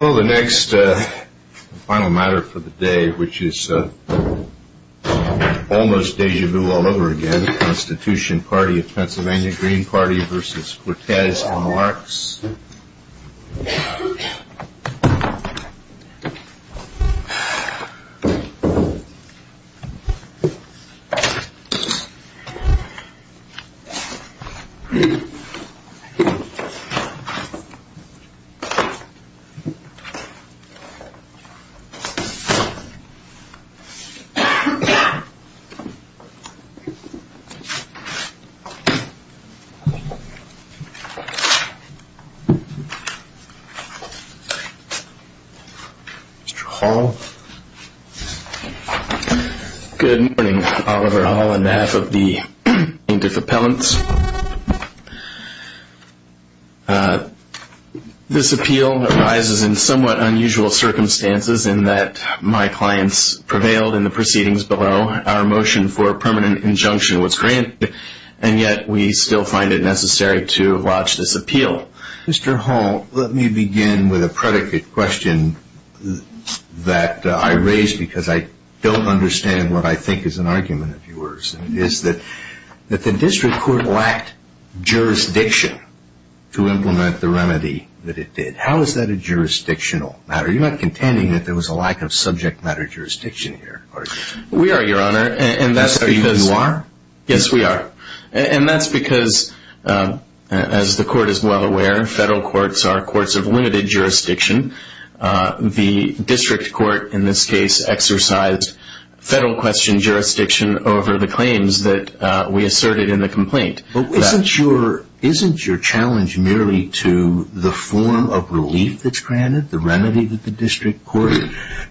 Well, the next final matter for the day, which is almost deja vu all over again, the Constitution Party of Pennsylvania, Green Party v. Cortes and the Larks. Mr. Hall Good morning, Oliver Hall, on behalf of the plaintiff appellants. This appeal arises in somewhat unusual circumstances in that my clients prevailed in the proceedings below. Our motion for permanent injunction was granted, and yet we still find it necessary to lodge this appeal. Mr. Hall, let me begin with a predicate question that I raise because I don't understand what I think is an argument of yours, and it is that the district court lacked jurisdiction to implement the remedy that it did. How is that a jurisdictional matter? You're not contending that there was a lack of subject matter jurisdiction here, are you? Mr. Hall We are, Your Honor, and that's because, as the court is well aware, federal courts are courts of limited jurisdiction. The district court, in this case, exercised federal question jurisdiction over the claims that we asserted in the complaint. Mr. Allen Isn't your challenge merely to the form of relief that's granted, the remedy that the district court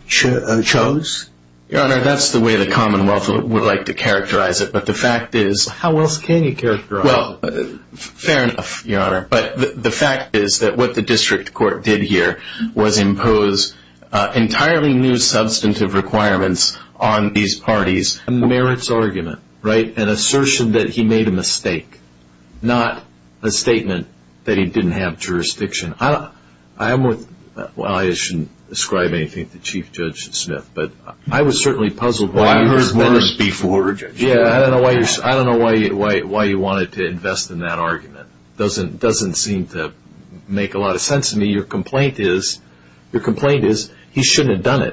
chose? Mr. Hall Your Honor, that's the way the commonwealth would like to characterize it, but the fact Mr. Allen How else can you characterize it? Mr. Hall Well, fair enough, Your Honor, but the fact is that what the district court did here was impose entirely new substantive requirements on these parties. Mr. Allen A merits argument, right? An assertion that he made a mistake, not a statement that he didn't have jurisdiction. Well, I shouldn't ascribe anything to Chief Judge Smith, but I was certainly puzzled by your response. Mr. Smith Well, I've heard this before, Judge. Mr. Allen Yeah, I don't know why you wanted to invest in that argument. It doesn't seem to make a lot of sense to me. Your complaint is he shouldn't have done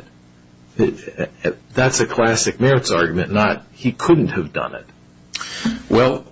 it. That's a classic merits argument, not he couldn't have done it. Mr. Hall Well,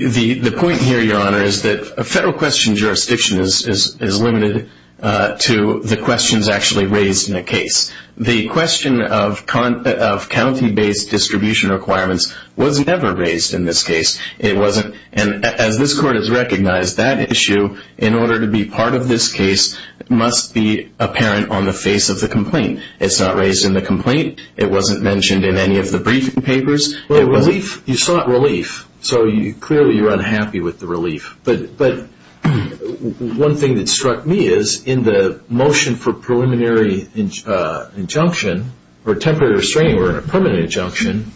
the point here, Your Honor, is that a federal question jurisdiction is limited to the questions actually raised in a case. The question of county-based distribution requirements was never raised in this case. As this court has recognized, that issue, in order to be part of this case, must be apparent on the face of the complaint. It's not raised in the complaint. It wasn't mentioned in any of the briefing papers. Mr. Allen You sought relief, so clearly you're unhappy with the relief. One thing that struck me is, in the motion for preliminary injunction, or temporary restraining or permanent injunction,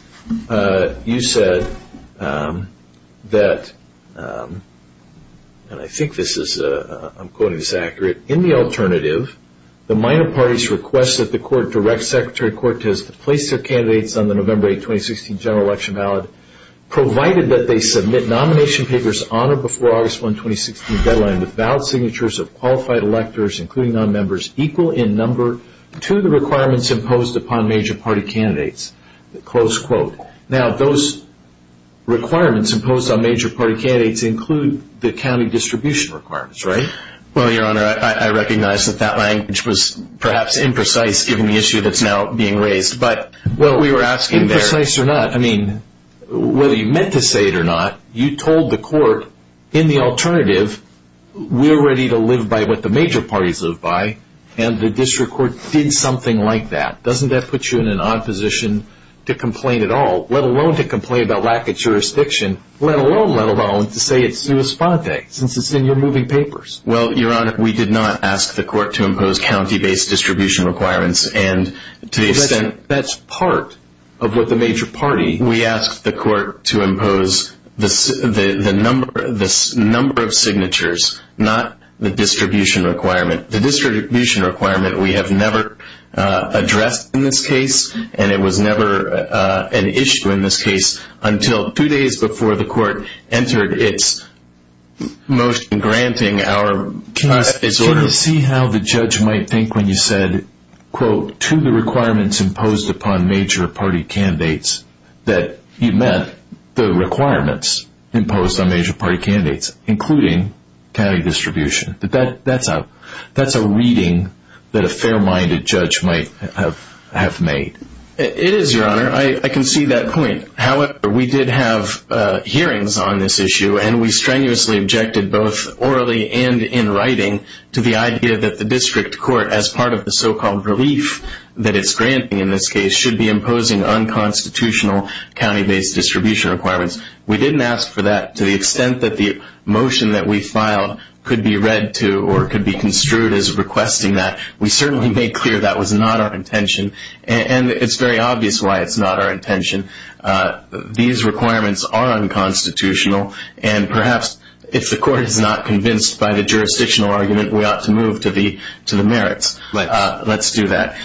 you said that, and I think this is, I'm quoting this accurate, that, in the alternative, the minor parties request that the court direct Secretary Cortez to place their candidates on the November 8, 2016, general election ballot, provided that they submit nomination papers on or before August 1, 2016 deadline with valid signatures of qualified electors, including non-members, equal in number to the requirements imposed upon major party candidates, close quote. Now those requirements imposed on major party candidates include the county distribution requirements, right? Well, your honor, I recognize that that language was perhaps imprecise, given the issue that's now being raised, but what we were asking there... Imprecise or not, I mean, whether you meant to say it or not, you told the court, in the alternative, we're ready to live by what the major parties live by, and the district court did something like that. Doesn't that put you in an odd position to complain at all, let alone to complain about lack of jurisdiction, let alone, let alone, to say it's sui sponte, since it's in your moving papers? Well, your honor, we did not ask the court to impose county-based distribution requirements, and to the extent... That's part of what the major party... We asked the court to impose the number of signatures, not the distribution requirement. The distribution requirement we have never addressed in this case, and it was never an Can you see how the judge might think when you said, quote, to the requirements imposed upon major party candidates, that you meant the requirements imposed on major party candidates, including county distribution. That's a reading that a fair-minded judge might have made. It is, your honor. I can see that point. However, we did have hearings on this issue, and we strenuously objected both orally and in writing to the idea that the district court, as part of the so-called relief that it's granting in this case, should be imposing unconstitutional county-based distribution requirements. We didn't ask for that. To the extent that the motion that we filed could be read to or could be construed as requesting that, we certainly made clear that was not our intention, and it's very obvious why it's not our intention. These requirements are unconstitutional, and perhaps if the court is not convinced by the jurisdictional argument, we ought to move to the merits. Let's do that.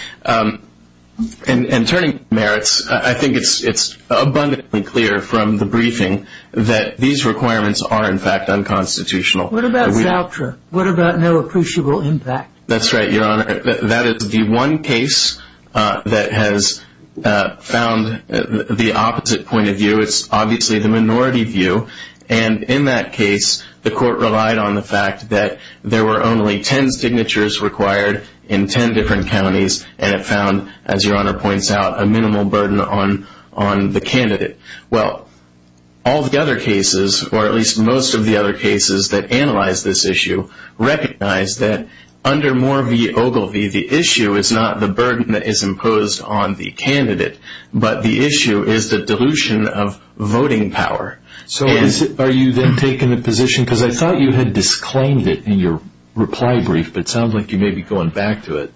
And turning to merits, I think it's abundantly clear from the briefing that these requirements are in fact unconstitutional. What about Zaltra? What about no appreciable impact? That's right, your honor. That is the one case that has found the opposite point of view. It's obviously the minority view, and in that case, the court relied on the fact that there were only 10 signatures required in 10 different counties, and it found, as your honor points out, a minimal burden on the candidate. Well, all the other cases, or at least most of the other cases that analyzed this issue, recognized that under Moore v. Ogilvie, the issue is not the burden that is imposed on the candidate, but the issue is the dilution of voting power. So are you then taking the position, because I thought you had disclaimed it in your reply brief, but it sounds like you may be going back to it,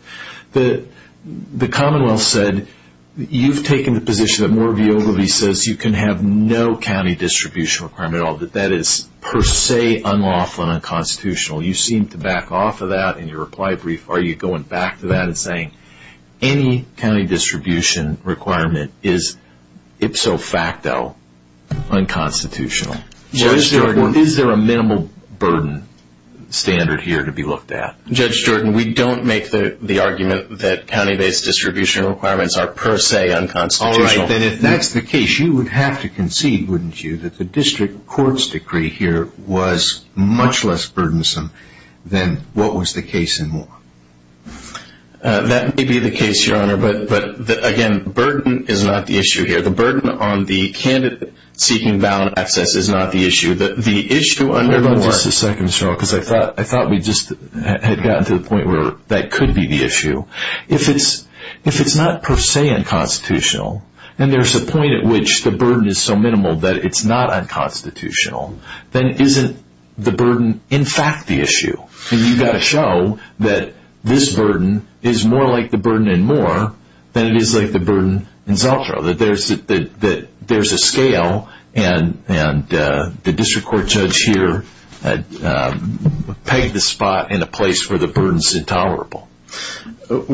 that the commonwealth said, you've taken the position that Moore v. Ogilvie says you can have no county distribution requirement at all, that that is per se unlawful and unconstitutional. You seem to back off of that in your reply brief. Are you going back to that and saying, any county distribution requirement is ipso facto unconstitutional? Well, is there a minimal burden standard here to be looked at? Judge Jordan, we don't make the argument that county-based distribution requirements are per se unconstitutional. All right, then if that's the case, you would have to concede, wouldn't you, that the district court's decree here was much less burdensome than what was the case in Moore? That may be the case, Your Honor, but again, burden is not the issue here. The burden on the candidate seeking ballot access is not the issue. The issue under Moore... Wait just a second, sir, because I thought we just had gotten to the point where that could be the issue. If it's not per se unconstitutional, then there's a point at which the burden is so minimal that it's not unconstitutional, then isn't the burden in fact the issue? You've got to show that this burden is more like the burden in Moore than it is like the burden in Zeltrow, that there's a scale and the district court judge here had pegged the spot in a place where the burden's intolerable. The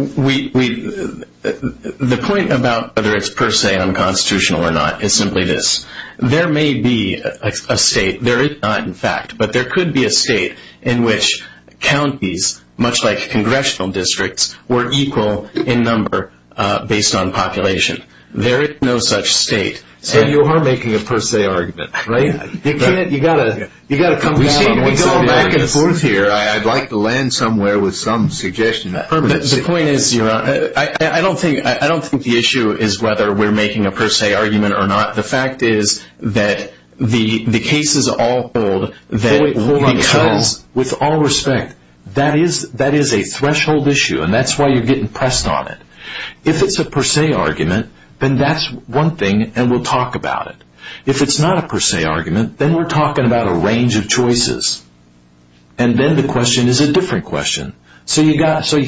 point about whether it's per se unconstitutional or not is simply this. There may be a state, there is not in fact, but there could be a state in which counties, much like congressional districts, were equal in number based on population. There is no such state. So you are making a per se argument, right? We go back and forth here. I'd like to land somewhere with some suggestion that permits it. I don't think the issue is whether we're making a per se argument or not. The fact is that the cases all hold because, with all respect, that is a threshold issue and that's why you're getting pressed on it. If it's a per se argument, then that's one thing and we'll talk about it. If it's not a per se argument, then we're talking about a range of choices. And then the question is a different question. So you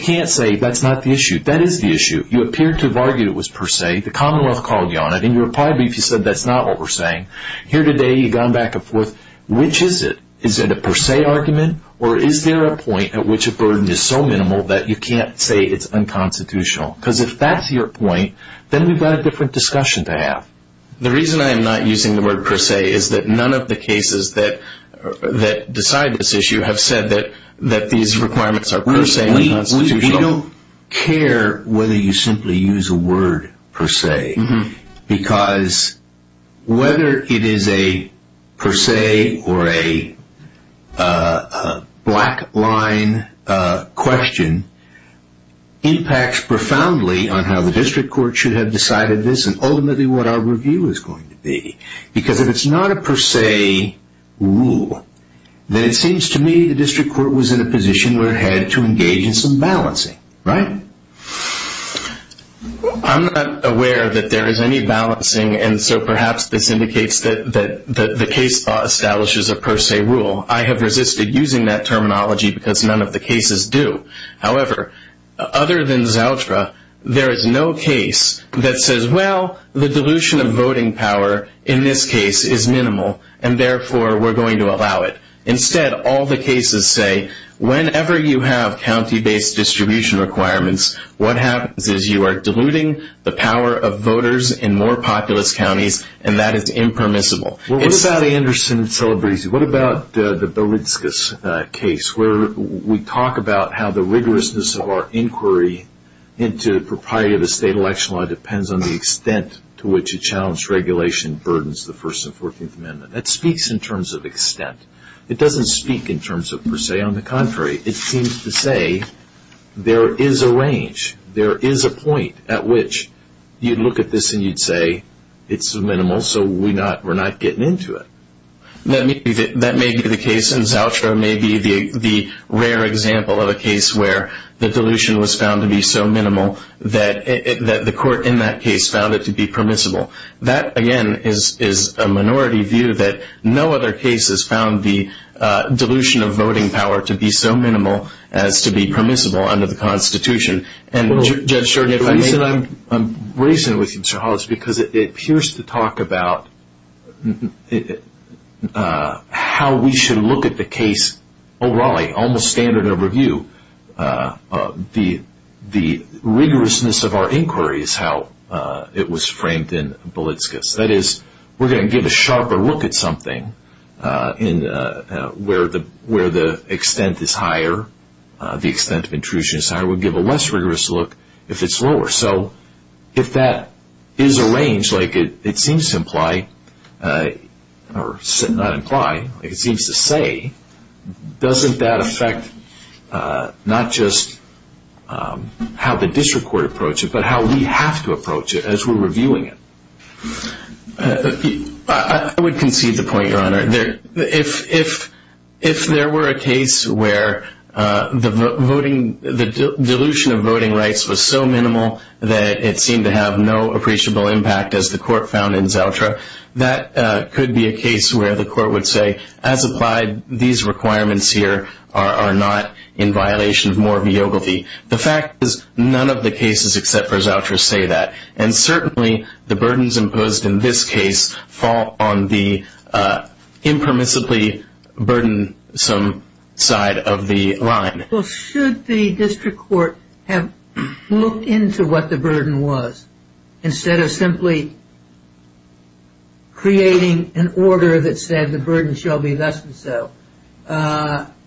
can't say that's not the issue. That is the issue. You appear to have argued it was per se. The commonwealth called you on it and you replied, but you said that's not what we're saying. Here today, you've gone back and forth. Which is it? Is it a per se argument or is there a point at which a burden is so minimal that you can't say it's unconstitutional? Because if that's your point, then we've got a different discussion to have. The reason I am not using the word per se is that none of the cases that decide this issue have said that these requirements are per se unconstitutional. We don't care whether you simply use a word per se because whether it is a per se or a black line question impacts profoundly on how the district court should have decided this and ultimately what our review is going to be. Because if it's not a per se rule, then it seems to me the district court was in a position where it had to engage in some balancing, right? I'm not aware that there is any balancing and so perhaps this indicates that the case law establishes a per se rule. I have resisted using that terminology because none of the cases do. However, other than Zoutra, there is no case that says, well, the dilution of voting power in this case is minimal and therefore we're going to allow it. Instead, all the cases say whenever you have county based distribution requirements, what happens is you are diluting the power of voters in more populous counties and that is impermissible. What about Anderson-Celebrisi? What about the Berlitzges case? We talk about how the rigorousness of our inquiry into the propriety of the state election law depends on the extent to which a challenged regulation burdens the First and Fourteenth Amendment. That speaks in terms of extent. It doesn't speak in terms of per se. On the contrary, it seems to say there is a range. There is a point at which you'd look at this and you'd say it's minimal so we're not getting into it. That may be the case and Zoutra may be the rare example of a case where the dilution was found to be so minimal that the court in that case found it to be permissible. That again is a minority view that no other case has found the dilution of voting power to be so minimal as to be permissible under the Constitution. I'm raising it with you, Mr. Hollis, because it appears to talk about how we should look at the case almost standard of review. The rigorousness of our inquiry is how it was framed in Berlitzges. That is, we're going to give a sharper look at something where the extent of intrusion is higher. We'll give a less rigorous look if it's lower. If that is a range, like it seems to say, doesn't that affect not just how the district court approaches it, but how we have to approach it as we're reviewing it? If there were a case where the dilution of voting rights was so minimal that it seemed to have no appreciable impact as the court found in Zoutra, that could be a case where the court would say, as applied, these requirements here are not in violation of more viability. The fact is, none of the cases except for Zoutra say that and certainly the burdens imposed in this case fall on the impermissibly burdensome side of the line. Should the district court have looked into what the burden was instead of simply creating an order that said the burden shall be less than so?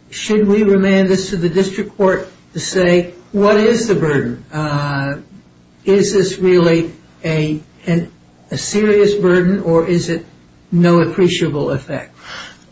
Should we remand this to the district court to say, what is the burden? Is this really a serious burden or is it no appreciable effect?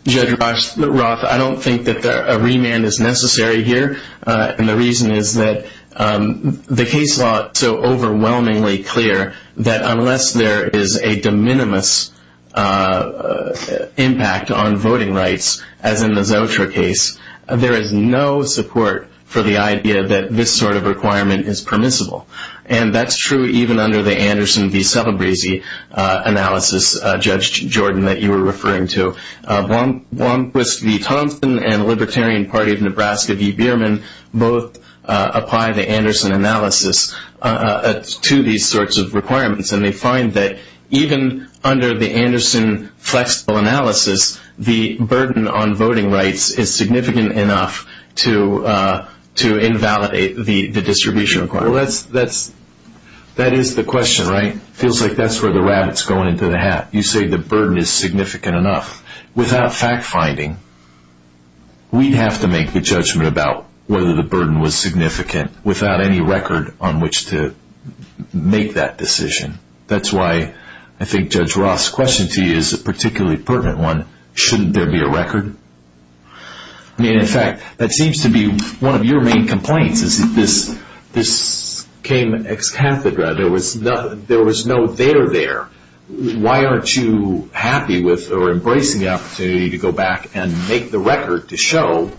Judge Roth, I don't think that a remand is necessary here. The reason is that the case law is so overwhelmingly clear that unless there is a de minimis impact on voting rights, as in the Zoutra case, there is no support for the idea that this sort of requirement is permissible. And that's true even under the Anderson v. Celebrezzi analysis, Judge Jordan, that you were referring to. Blomquist v. Thompson and the Libertarian Party of Nebraska v. Bierman both apply the Anderson analysis to these sorts of requirements and they find that even under the Anderson flexible analysis, the burden on voting rights is significant enough to invalidate the distribution requirement. Well, that is the question, right? Feels like that's where the rabbit's going into the hat. You say the burden is significant enough. Without fact finding, we'd have to make the judgment about whether the burden was significant without any record on which to make that decision. That's why I think Judge Ross' question to you is a particularly pertinent one. Shouldn't there be a record? I mean, in fact, that seems to be one of your main complaints, is that this came ex cathedra. There was no there there. Why aren't you happy with or embracing the opportunity to go back and make the record to show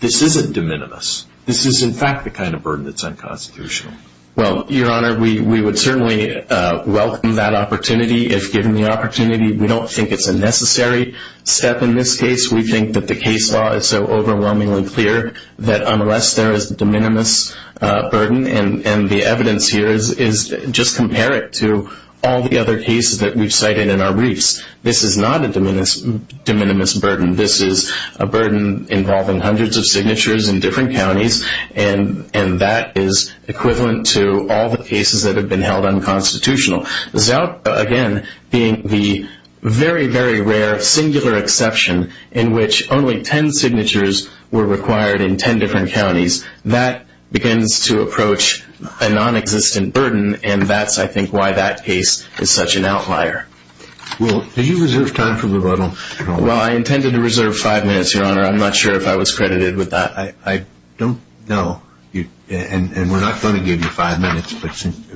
this isn't de minimis? This is, in fact, the kind of burden that's unconstitutional. Well, Your Honor, we would certainly welcome that opportunity if given the opportunity. We don't think it's a necessary step in this case. We think that the case law is so overwhelmingly clear that unless there is de minimis burden and the evidence here is just compare it to all the other cases that we've cited in our briefs. This is not a de minimis burden. This is a burden involving hundreds of signatures in different counties. And that is equivalent to all the cases that have been held unconstitutional. Zout, again, being the very, very rare singular exception in which only ten signatures were required in ten different counties, that begins to approach a non-existent burden. And that's, I think, why that case is such an outlier. Will, did you reserve time for rebuttal? Well, I intended to reserve five minutes, Your Honor. I'm not sure if I was credited with that. I don't know. And we're not going to give you five minutes,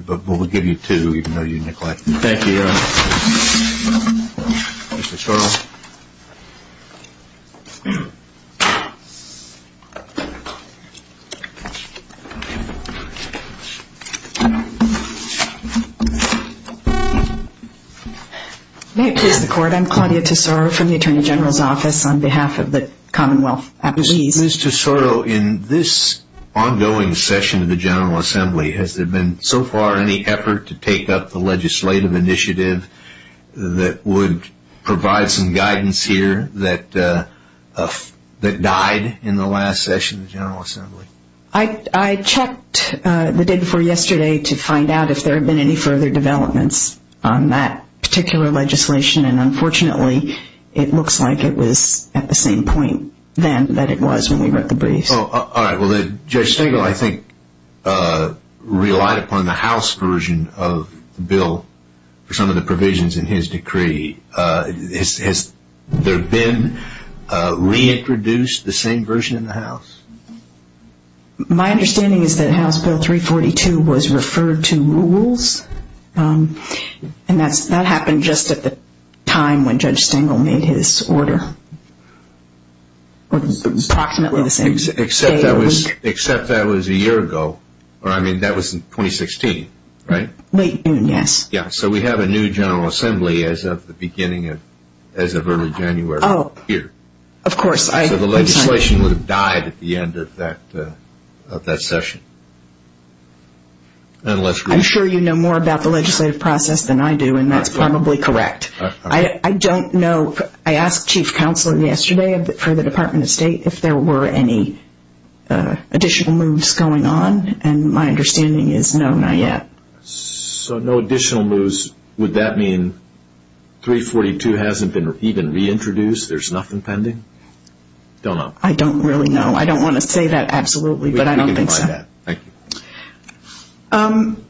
but we'll give you two, even though you neglected it. Thank you, Your Honor. Ms. Tesoro. May it please the Court, I'm Claudia Tesoro from the Attorney General's Office on behalf of the Commonwealth. Ms. Tesoro, in this ongoing session of the General Assembly, has there been so far any effort to take up the legislative initiative that would provide some guidance here that died in the last session of the General Assembly? I checked the day before yesterday to find out if there had been any further developments on that particular legislation. And unfortunately, it looks like it was at the same point then that it was when we read the briefs. All right. Well, Judge Stengel, I think, relied upon the House version of the bill for some of the provisions in his decree. Has there been reintroduced the same version in the House? My understanding is that House Bill 342 was referred to rules. And that happened just at the time when Judge Stengel made his order. Approximately the same day or week. Except that was a year ago. Or I mean, that was in 2016, right? Late June, yes. Yeah, so we have a new General Assembly as of the beginning of, as of early January of this year. Of course. So the legislation would have died at the end of that session. I'm sure you know more about the legislative process than I do, and that's probably correct. I don't know, I asked Chief Counsel yesterday for the Department of State if there were any additional moves going on. And my understanding is no, not yet. So no additional moves, would that mean 342 hasn't been even reintroduced? There's nothing pending? I don't know. I don't really know. I don't want to say that absolutely, but I don't think so. I don't know that. Thank you.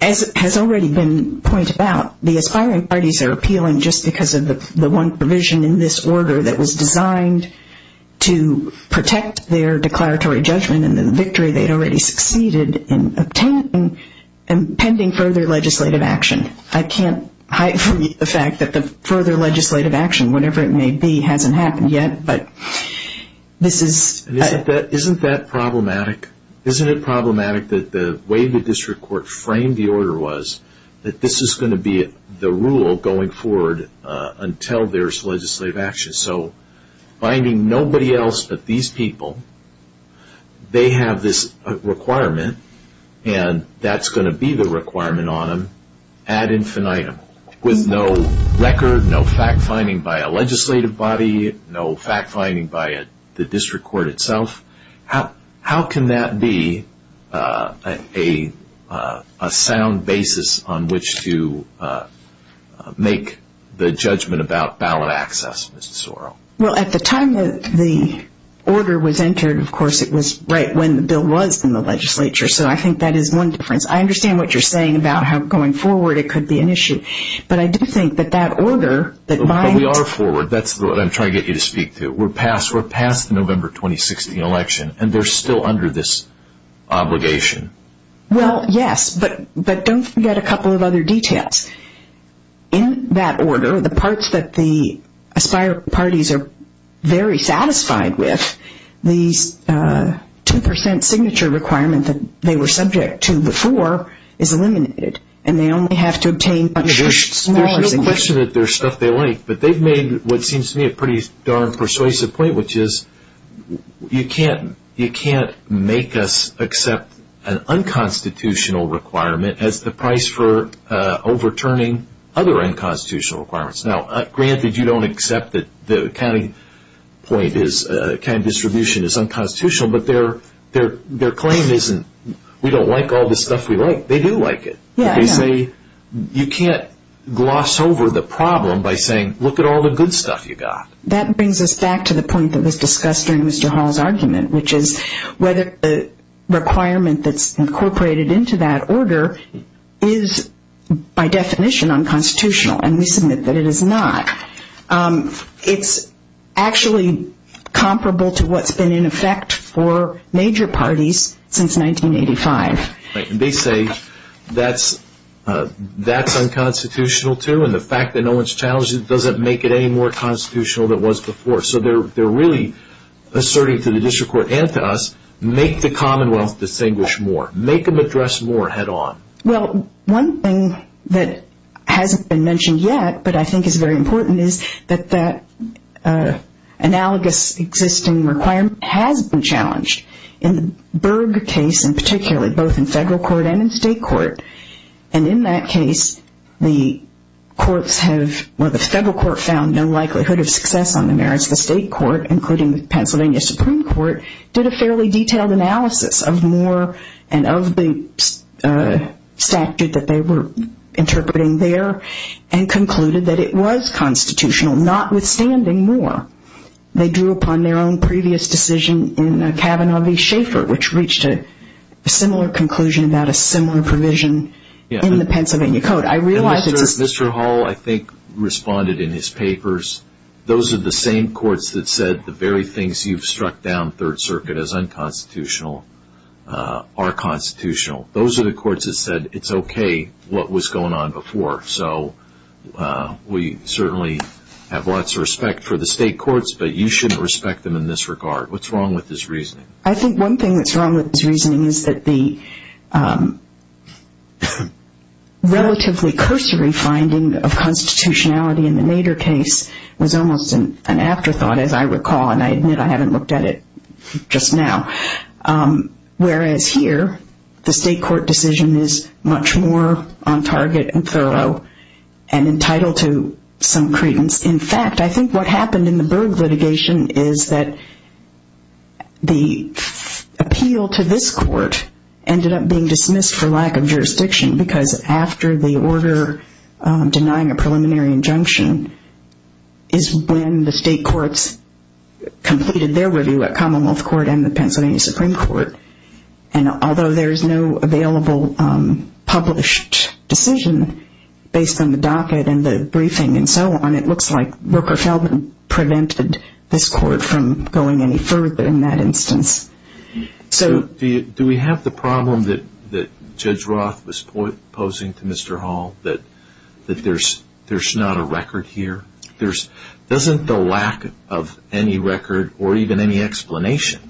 As it has already been pointed out, the aspiring parties are appealing just because of the one provision in this order that was designed to protect their declaratory judgment and the victory they'd already succeeded in obtaining and pending further legislative action. I can't hide from you the fact that the further legislative action, whatever it may be, hasn't happened yet. Isn't that problematic? Isn't it problematic that the way the district court framed the order was that this is going to be the rule going forward until there's legislative action? So finding nobody else but these people, they have this requirement, and that's going to be the requirement on them ad infinitum, with no record, no fact-finding by a legislative body, no fact-finding by the district court itself. How can that be a sound basis on which to make the judgment about ballot access, Ms. Sorrell? Well, at the time that the order was entered, of course, it was right when the bill was in the legislature, so I think that is one difference. I understand what you're saying about how going forward it could be an issue, but I do think that that order that might But we are forward. That's what I'm trying to get you to speak to. We're past the November 2016 election, and they're still under this obligation. Well, yes, but don't forget a couple of other details. In that order, the parts that the aspired parties are very satisfied with, the 2% signature requirement that they were subject to before is eliminated, and they only have to obtain There's no question that there's stuff they like, but they've made what seems to me a pretty darn persuasive point, which is you can't make us accept an unconstitutional requirement as the price for overturning other unconstitutional requirements. Now, granted, you don't accept that the county distribution is unconstitutional, but their claim isn't we don't like all the stuff we like. They do like it. They say you can't gloss over the problem by saying look at all the good stuff you got. That brings us back to the point that was discussed during Mr. Hall's argument, which is whether the requirement that's incorporated into that order is by definition unconstitutional, and we submit that it is not. It's actually comparable to what's been in effect for major parties since 1985. And they say that's unconstitutional, too, and the fact that no one's challenged it doesn't make it any more constitutional than it was before. So they're really asserting to the district court and to us, make the Commonwealth distinguish more. Make them address more head on. Well, one thing that hasn't been mentioned yet, but I think is very important, is that that analogous existing requirement has been challenged. In the Berg case in particular, both in federal court and in state court, and in that case the courts have or the federal court found no likelihood of success on the merits. The state court, including the Pennsylvania Supreme Court, did a fairly detailed analysis of Moore and of the statute that they were interpreting there and concluded that it was constitutional, notwithstanding Moore. They drew upon their own previous decision in Kavanaugh v. Schaeffer, which reached a similar conclusion about a similar provision in the Pennsylvania Code. I realize it's a- And Mr. Hall, I think, responded in his papers, those are the same courts that said the very things you've struck down Third Circuit as unconstitutional are constitutional. Those are the courts that said it's okay what was going on before. So we certainly have lots of respect for the state courts, but you shouldn't respect them in this regard. What's wrong with his reasoning? I think one thing that's wrong with his reasoning is that the relatively cursory finding of constitutionality in the Nader case was almost an afterthought, as I recall, and I admit I haven't looked at it just now. Whereas here, the state court decision is much more on target and thorough and entitled to some credence. In fact, I think what happened in the Berg litigation is that the appeal to this court ended up being dismissed for lack of jurisdiction because after the order denying a preliminary injunction is when the state courts completed their review at Commonwealth Court and the Pennsylvania Supreme Court. And although there is no available published decision based on the docket and the briefing and so on, it looks like Rooker-Feldman prevented this court from going any further in that instance. Do we have the problem that Judge Roth was posing to Mr. Hall, that there's not a record here? Doesn't the lack of any record or even any explanation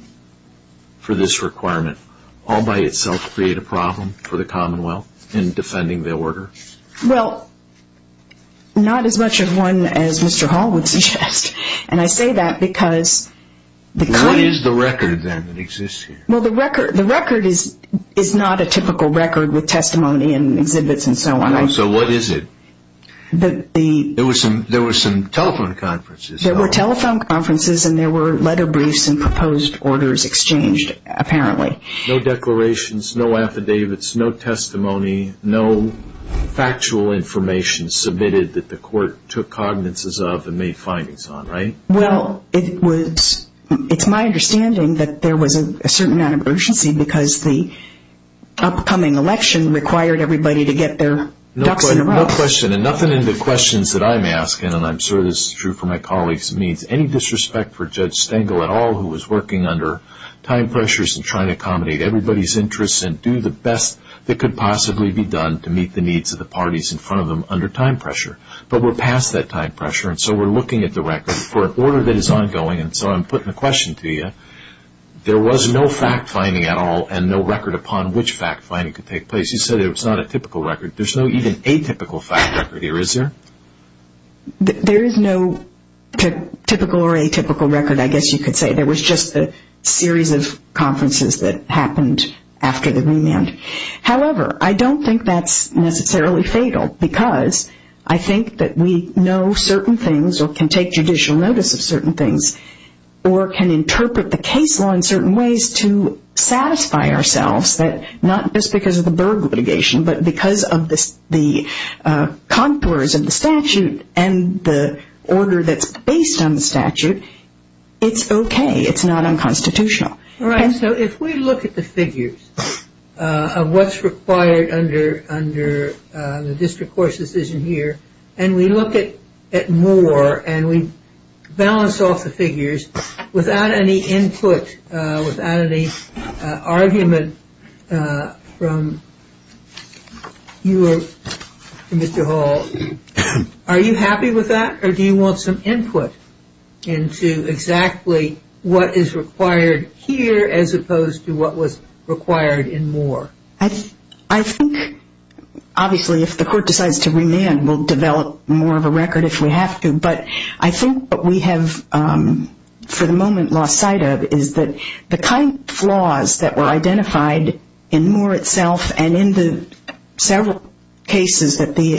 for this requirement all by itself create a problem for the Commonwealth in defending the order? Well, not as much of one as Mr. Hall would suggest. What is the record then that exists here? The record is not a typical record with testimony and exhibits and so on. So what is it? There were some telephone conferences. There were telephone conferences and there were letter briefs and proposed orders exchanged, apparently. No declarations, no affidavits, no testimony, no factual information submitted that the court took cognizance of and made findings on, right? Well, it's my understanding that there was a certain amount of urgency because the upcoming election required everybody to get their ducks in a row. No question. And nothing in the questions that I'm asking, and I'm sure this is true for my colleagues, means any disrespect for Judge Stengel at all who was working under time pressures and trying to accommodate everybody's interests and do the best that could possibly be done to meet the needs of the parties in front of them under time pressure. But we're past that time pressure and so we're looking at the record for an order that is ongoing. And so I'm putting a question to you. There was no fact-finding at all and no record upon which fact-finding could take place. You said it was not a typical record. There's no even atypical fact record here, is there? There is no typical or atypical record, I guess you could say. There was just a series of conferences that happened after the Greenland. However, I don't think that's necessarily fatal because I think that we know certain things or can take judicial notice of certain things or can interpret the case law in certain ways to satisfy ourselves that not just because of the Berg litigation but because of the contours of the statute and the order that's based on the statute, it's okay. It's not unconstitutional. All right. So if we look at the figures of what's required under the district court's decision here and we look at more and we balance off the figures without any input, without any argument from you or Mr. Hall, are you happy with that or do you want some input into exactly what is required here as opposed to what was required in Moore? I think obviously if the court decides to remand, we'll develop more of a record if we have to. But I think what we have for the moment lost sight of is that the kind of flaws that were identified in Moore itself and in the several cases that the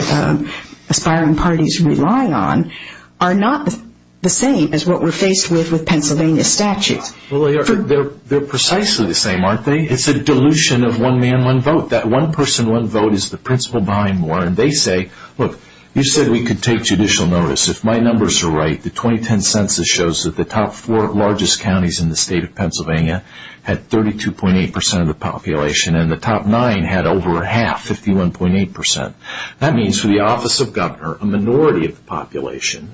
aspiring parties rely on are not the same as what we're faced with with Pennsylvania statutes. They're precisely the same, aren't they? It's a dilution of one man, one vote. That one person, one vote is the principle behind Moore. And they say, look, you said we could take judicial notice. If my numbers are right, the 2010 census shows that the top four largest counties in the state of Pennsylvania had 32.8% of the population and the top nine had over half, 51.8%. That means for the office of governor, a minority of the population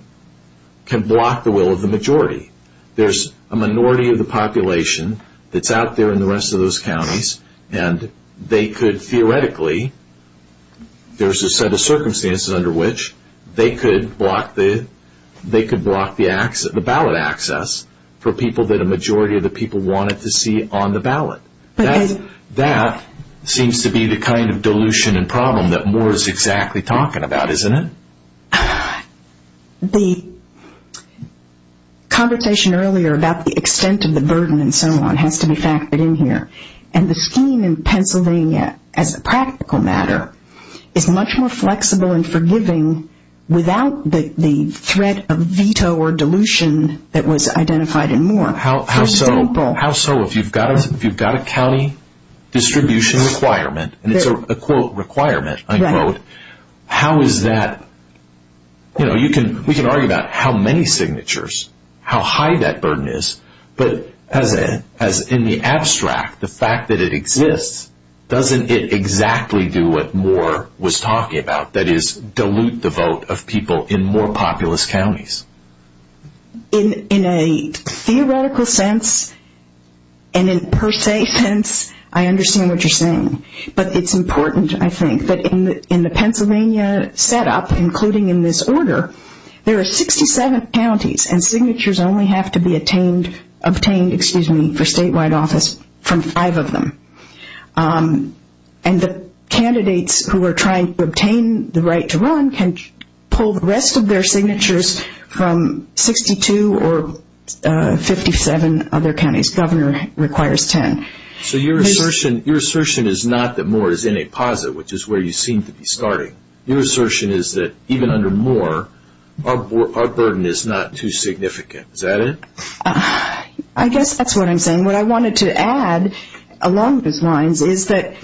can block the will of the majority. There's a minority of the population that's out there in the rest of those counties and they could theoretically, there's a set of circumstances under which they could block the ballot access for people that a majority of the people wanted to see on the ballot. That seems to be the kind of dilution and problem that Moore is exactly talking about, isn't it? The conversation earlier about the extent of the burden and so on has to be factored in here. And the scheme in Pennsylvania as a practical matter is much more flexible and forgiving without the threat of veto or dilution that was identified in Moore. How so? If you've got a county distribution requirement, and it's a quote requirement, unquote, how is that, you know, we can argue about how many signatures, how high that burden is, but as in the abstract, the fact that it exists, doesn't it exactly do what Moore was talking about? That is, dilute the vote of people in more populous counties. In a theoretical sense, and in per se sense, I understand what you're saying. But it's important, I think, that in the Pennsylvania setup, including in this order, there are 67 counties and signatures only have to be obtained for statewide office from five of them. And the candidates who are trying to obtain the right to run can pull the rest of their signatures from 62 or 57 other counties. Governor requires 10. So your assertion is not that Moore is in a posit, which is where you seem to be starting. Your assertion is that even under Moore, our burden is not too significant. Is that it? I guess that's what I'm saying. What I wanted to add, along those lines, is that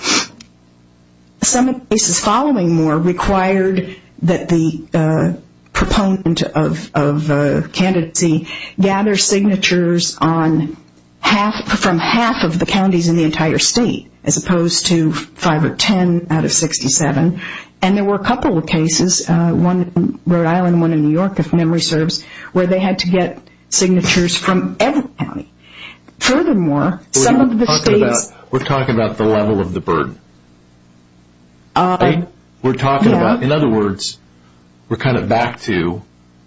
some of the cases following Moore required that the proponent of candidacy gather signatures from half of the counties in the entire state, as opposed to 5 or 10 out of 67. And there were a couple of cases, one in Rhode Island, one in New York, if memory serves, where they had to get signatures from every county. Furthermore, some of the states... We're talking about the level of the burden, right? We're talking about, in other words, we're kind of back to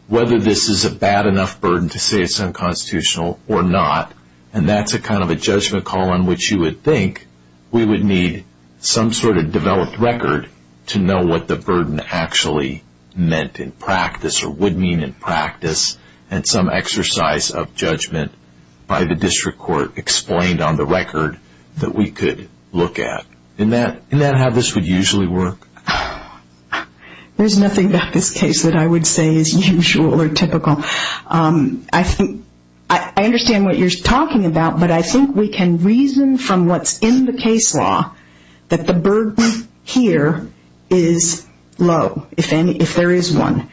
whether this is a bad enough burden to say it's unconstitutional or not, and that's a kind of a judgment call on which you would think we would need some sort of developed record to know what the burden actually meant in practice or would mean in practice, and some exercise of judgment by the district court explained on the record that we could look at. Isn't that how this would usually work? There's nothing about this case that I would say is usual or typical. I understand what you're talking about, but I think we can reason from what's in the case law that the burden here is low, if there is one.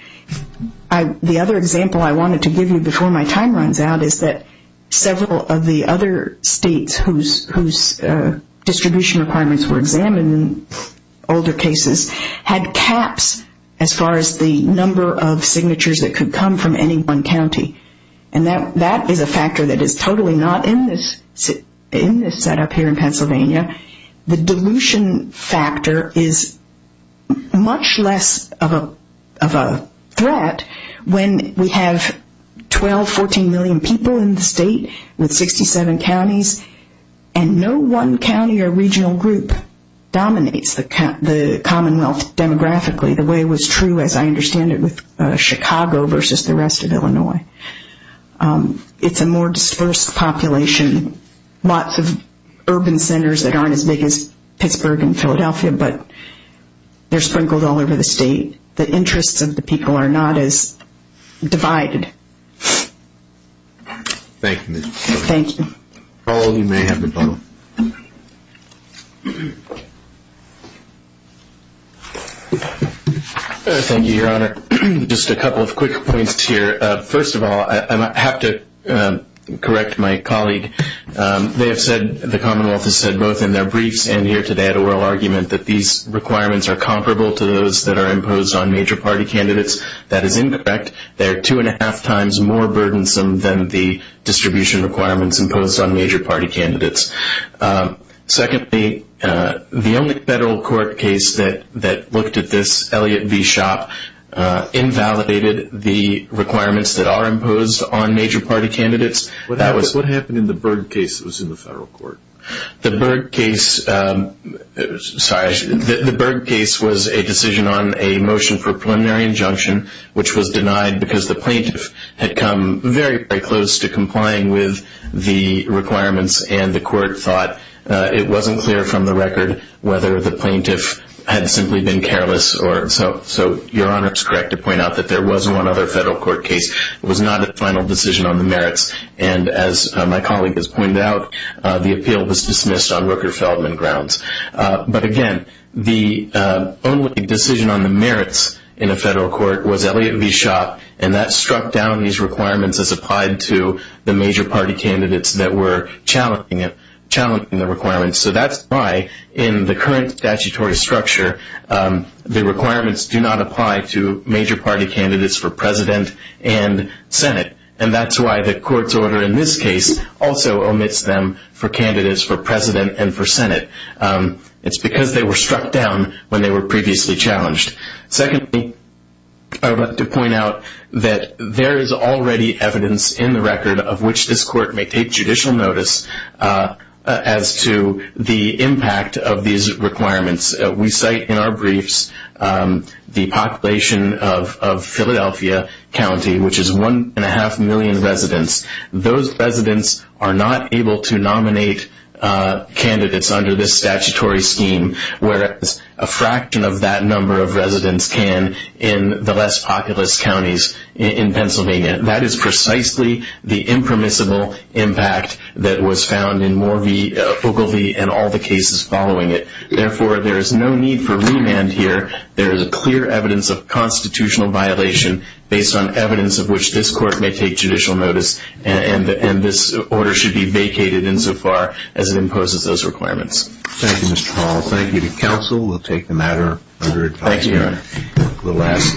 The other example I wanted to give you before my time runs out is that several of the other states whose distribution requirements were examined in older cases had caps as far as the number of signatures that could come from any one county, and that is a factor that is totally not in this setup here in Pennsylvania. The dilution factor is much less of a threat when we have 12, 14 million people in the state with 67 counties and no one county or regional group dominates the commonwealth demographically the way it was true as I understand it with Chicago versus the rest of Illinois. It's a more dispersed population. Lots of urban centers that aren't as big as Pittsburgh and Philadelphia, but they're sprinkled all over the state. The interests of the people are not as divided. Thank you. Thank you. Thank you, Your Honor. Just a couple of quick points here. First of all, I have to correct my colleague. They have said, the commonwealth has said both in their briefs and here today at oral argument, that these requirements are comparable to those that are imposed on major party candidates. That is incorrect. They are two and a half times more burdensome than the distribution requirements imposed on major party candidates. Secondly, the only federal court case that looked at this, Elliott v. Shop, invalidated the requirements that are imposed on major party candidates. What happened in the Berg case that was in the federal court? The Berg case was a decision on a motion for preliminary injunction, which was denied because the plaintiff had come very, it wasn't clear from the record whether the plaintiff had simply been careless. So Your Honor is correct to point out that there was one other federal court case. It was not a final decision on the merits. And as my colleague has pointed out, the appeal was dismissed on Rooker-Feldman grounds. But again, the only decision on the merits in a federal court was Elliott v. Shop, and that struck down these requirements as applied to the major party candidates that were challenging the requirements. So that's why in the current statutory structure, the requirements do not apply to major party candidates for president and senate. And that's why the court's order in this case also omits them for candidates for president and for senate. It's because they were struck down when they were previously challenged. Secondly, I would like to point out that there is already evidence in the record of which this court may take judicial notice as to the impact of these requirements. We cite in our briefs the population of Philadelphia County, which is 1.5 million residents. Those residents are not able to nominate candidates under this statutory scheme, whereas a fraction of that number of residents can in the less populous counties in Pennsylvania. That is precisely the impermissible impact that was found in Moore v. Fogelty and all the cases following it. Therefore, there is no need for remand here. There is a clear evidence of constitutional violation based on evidence of which this court may take judicial notice, and this order should be vacated insofar as it imposes those requirements. Thank you, Mr. Hall. Thank you to counsel. We'll take the matter under advisory.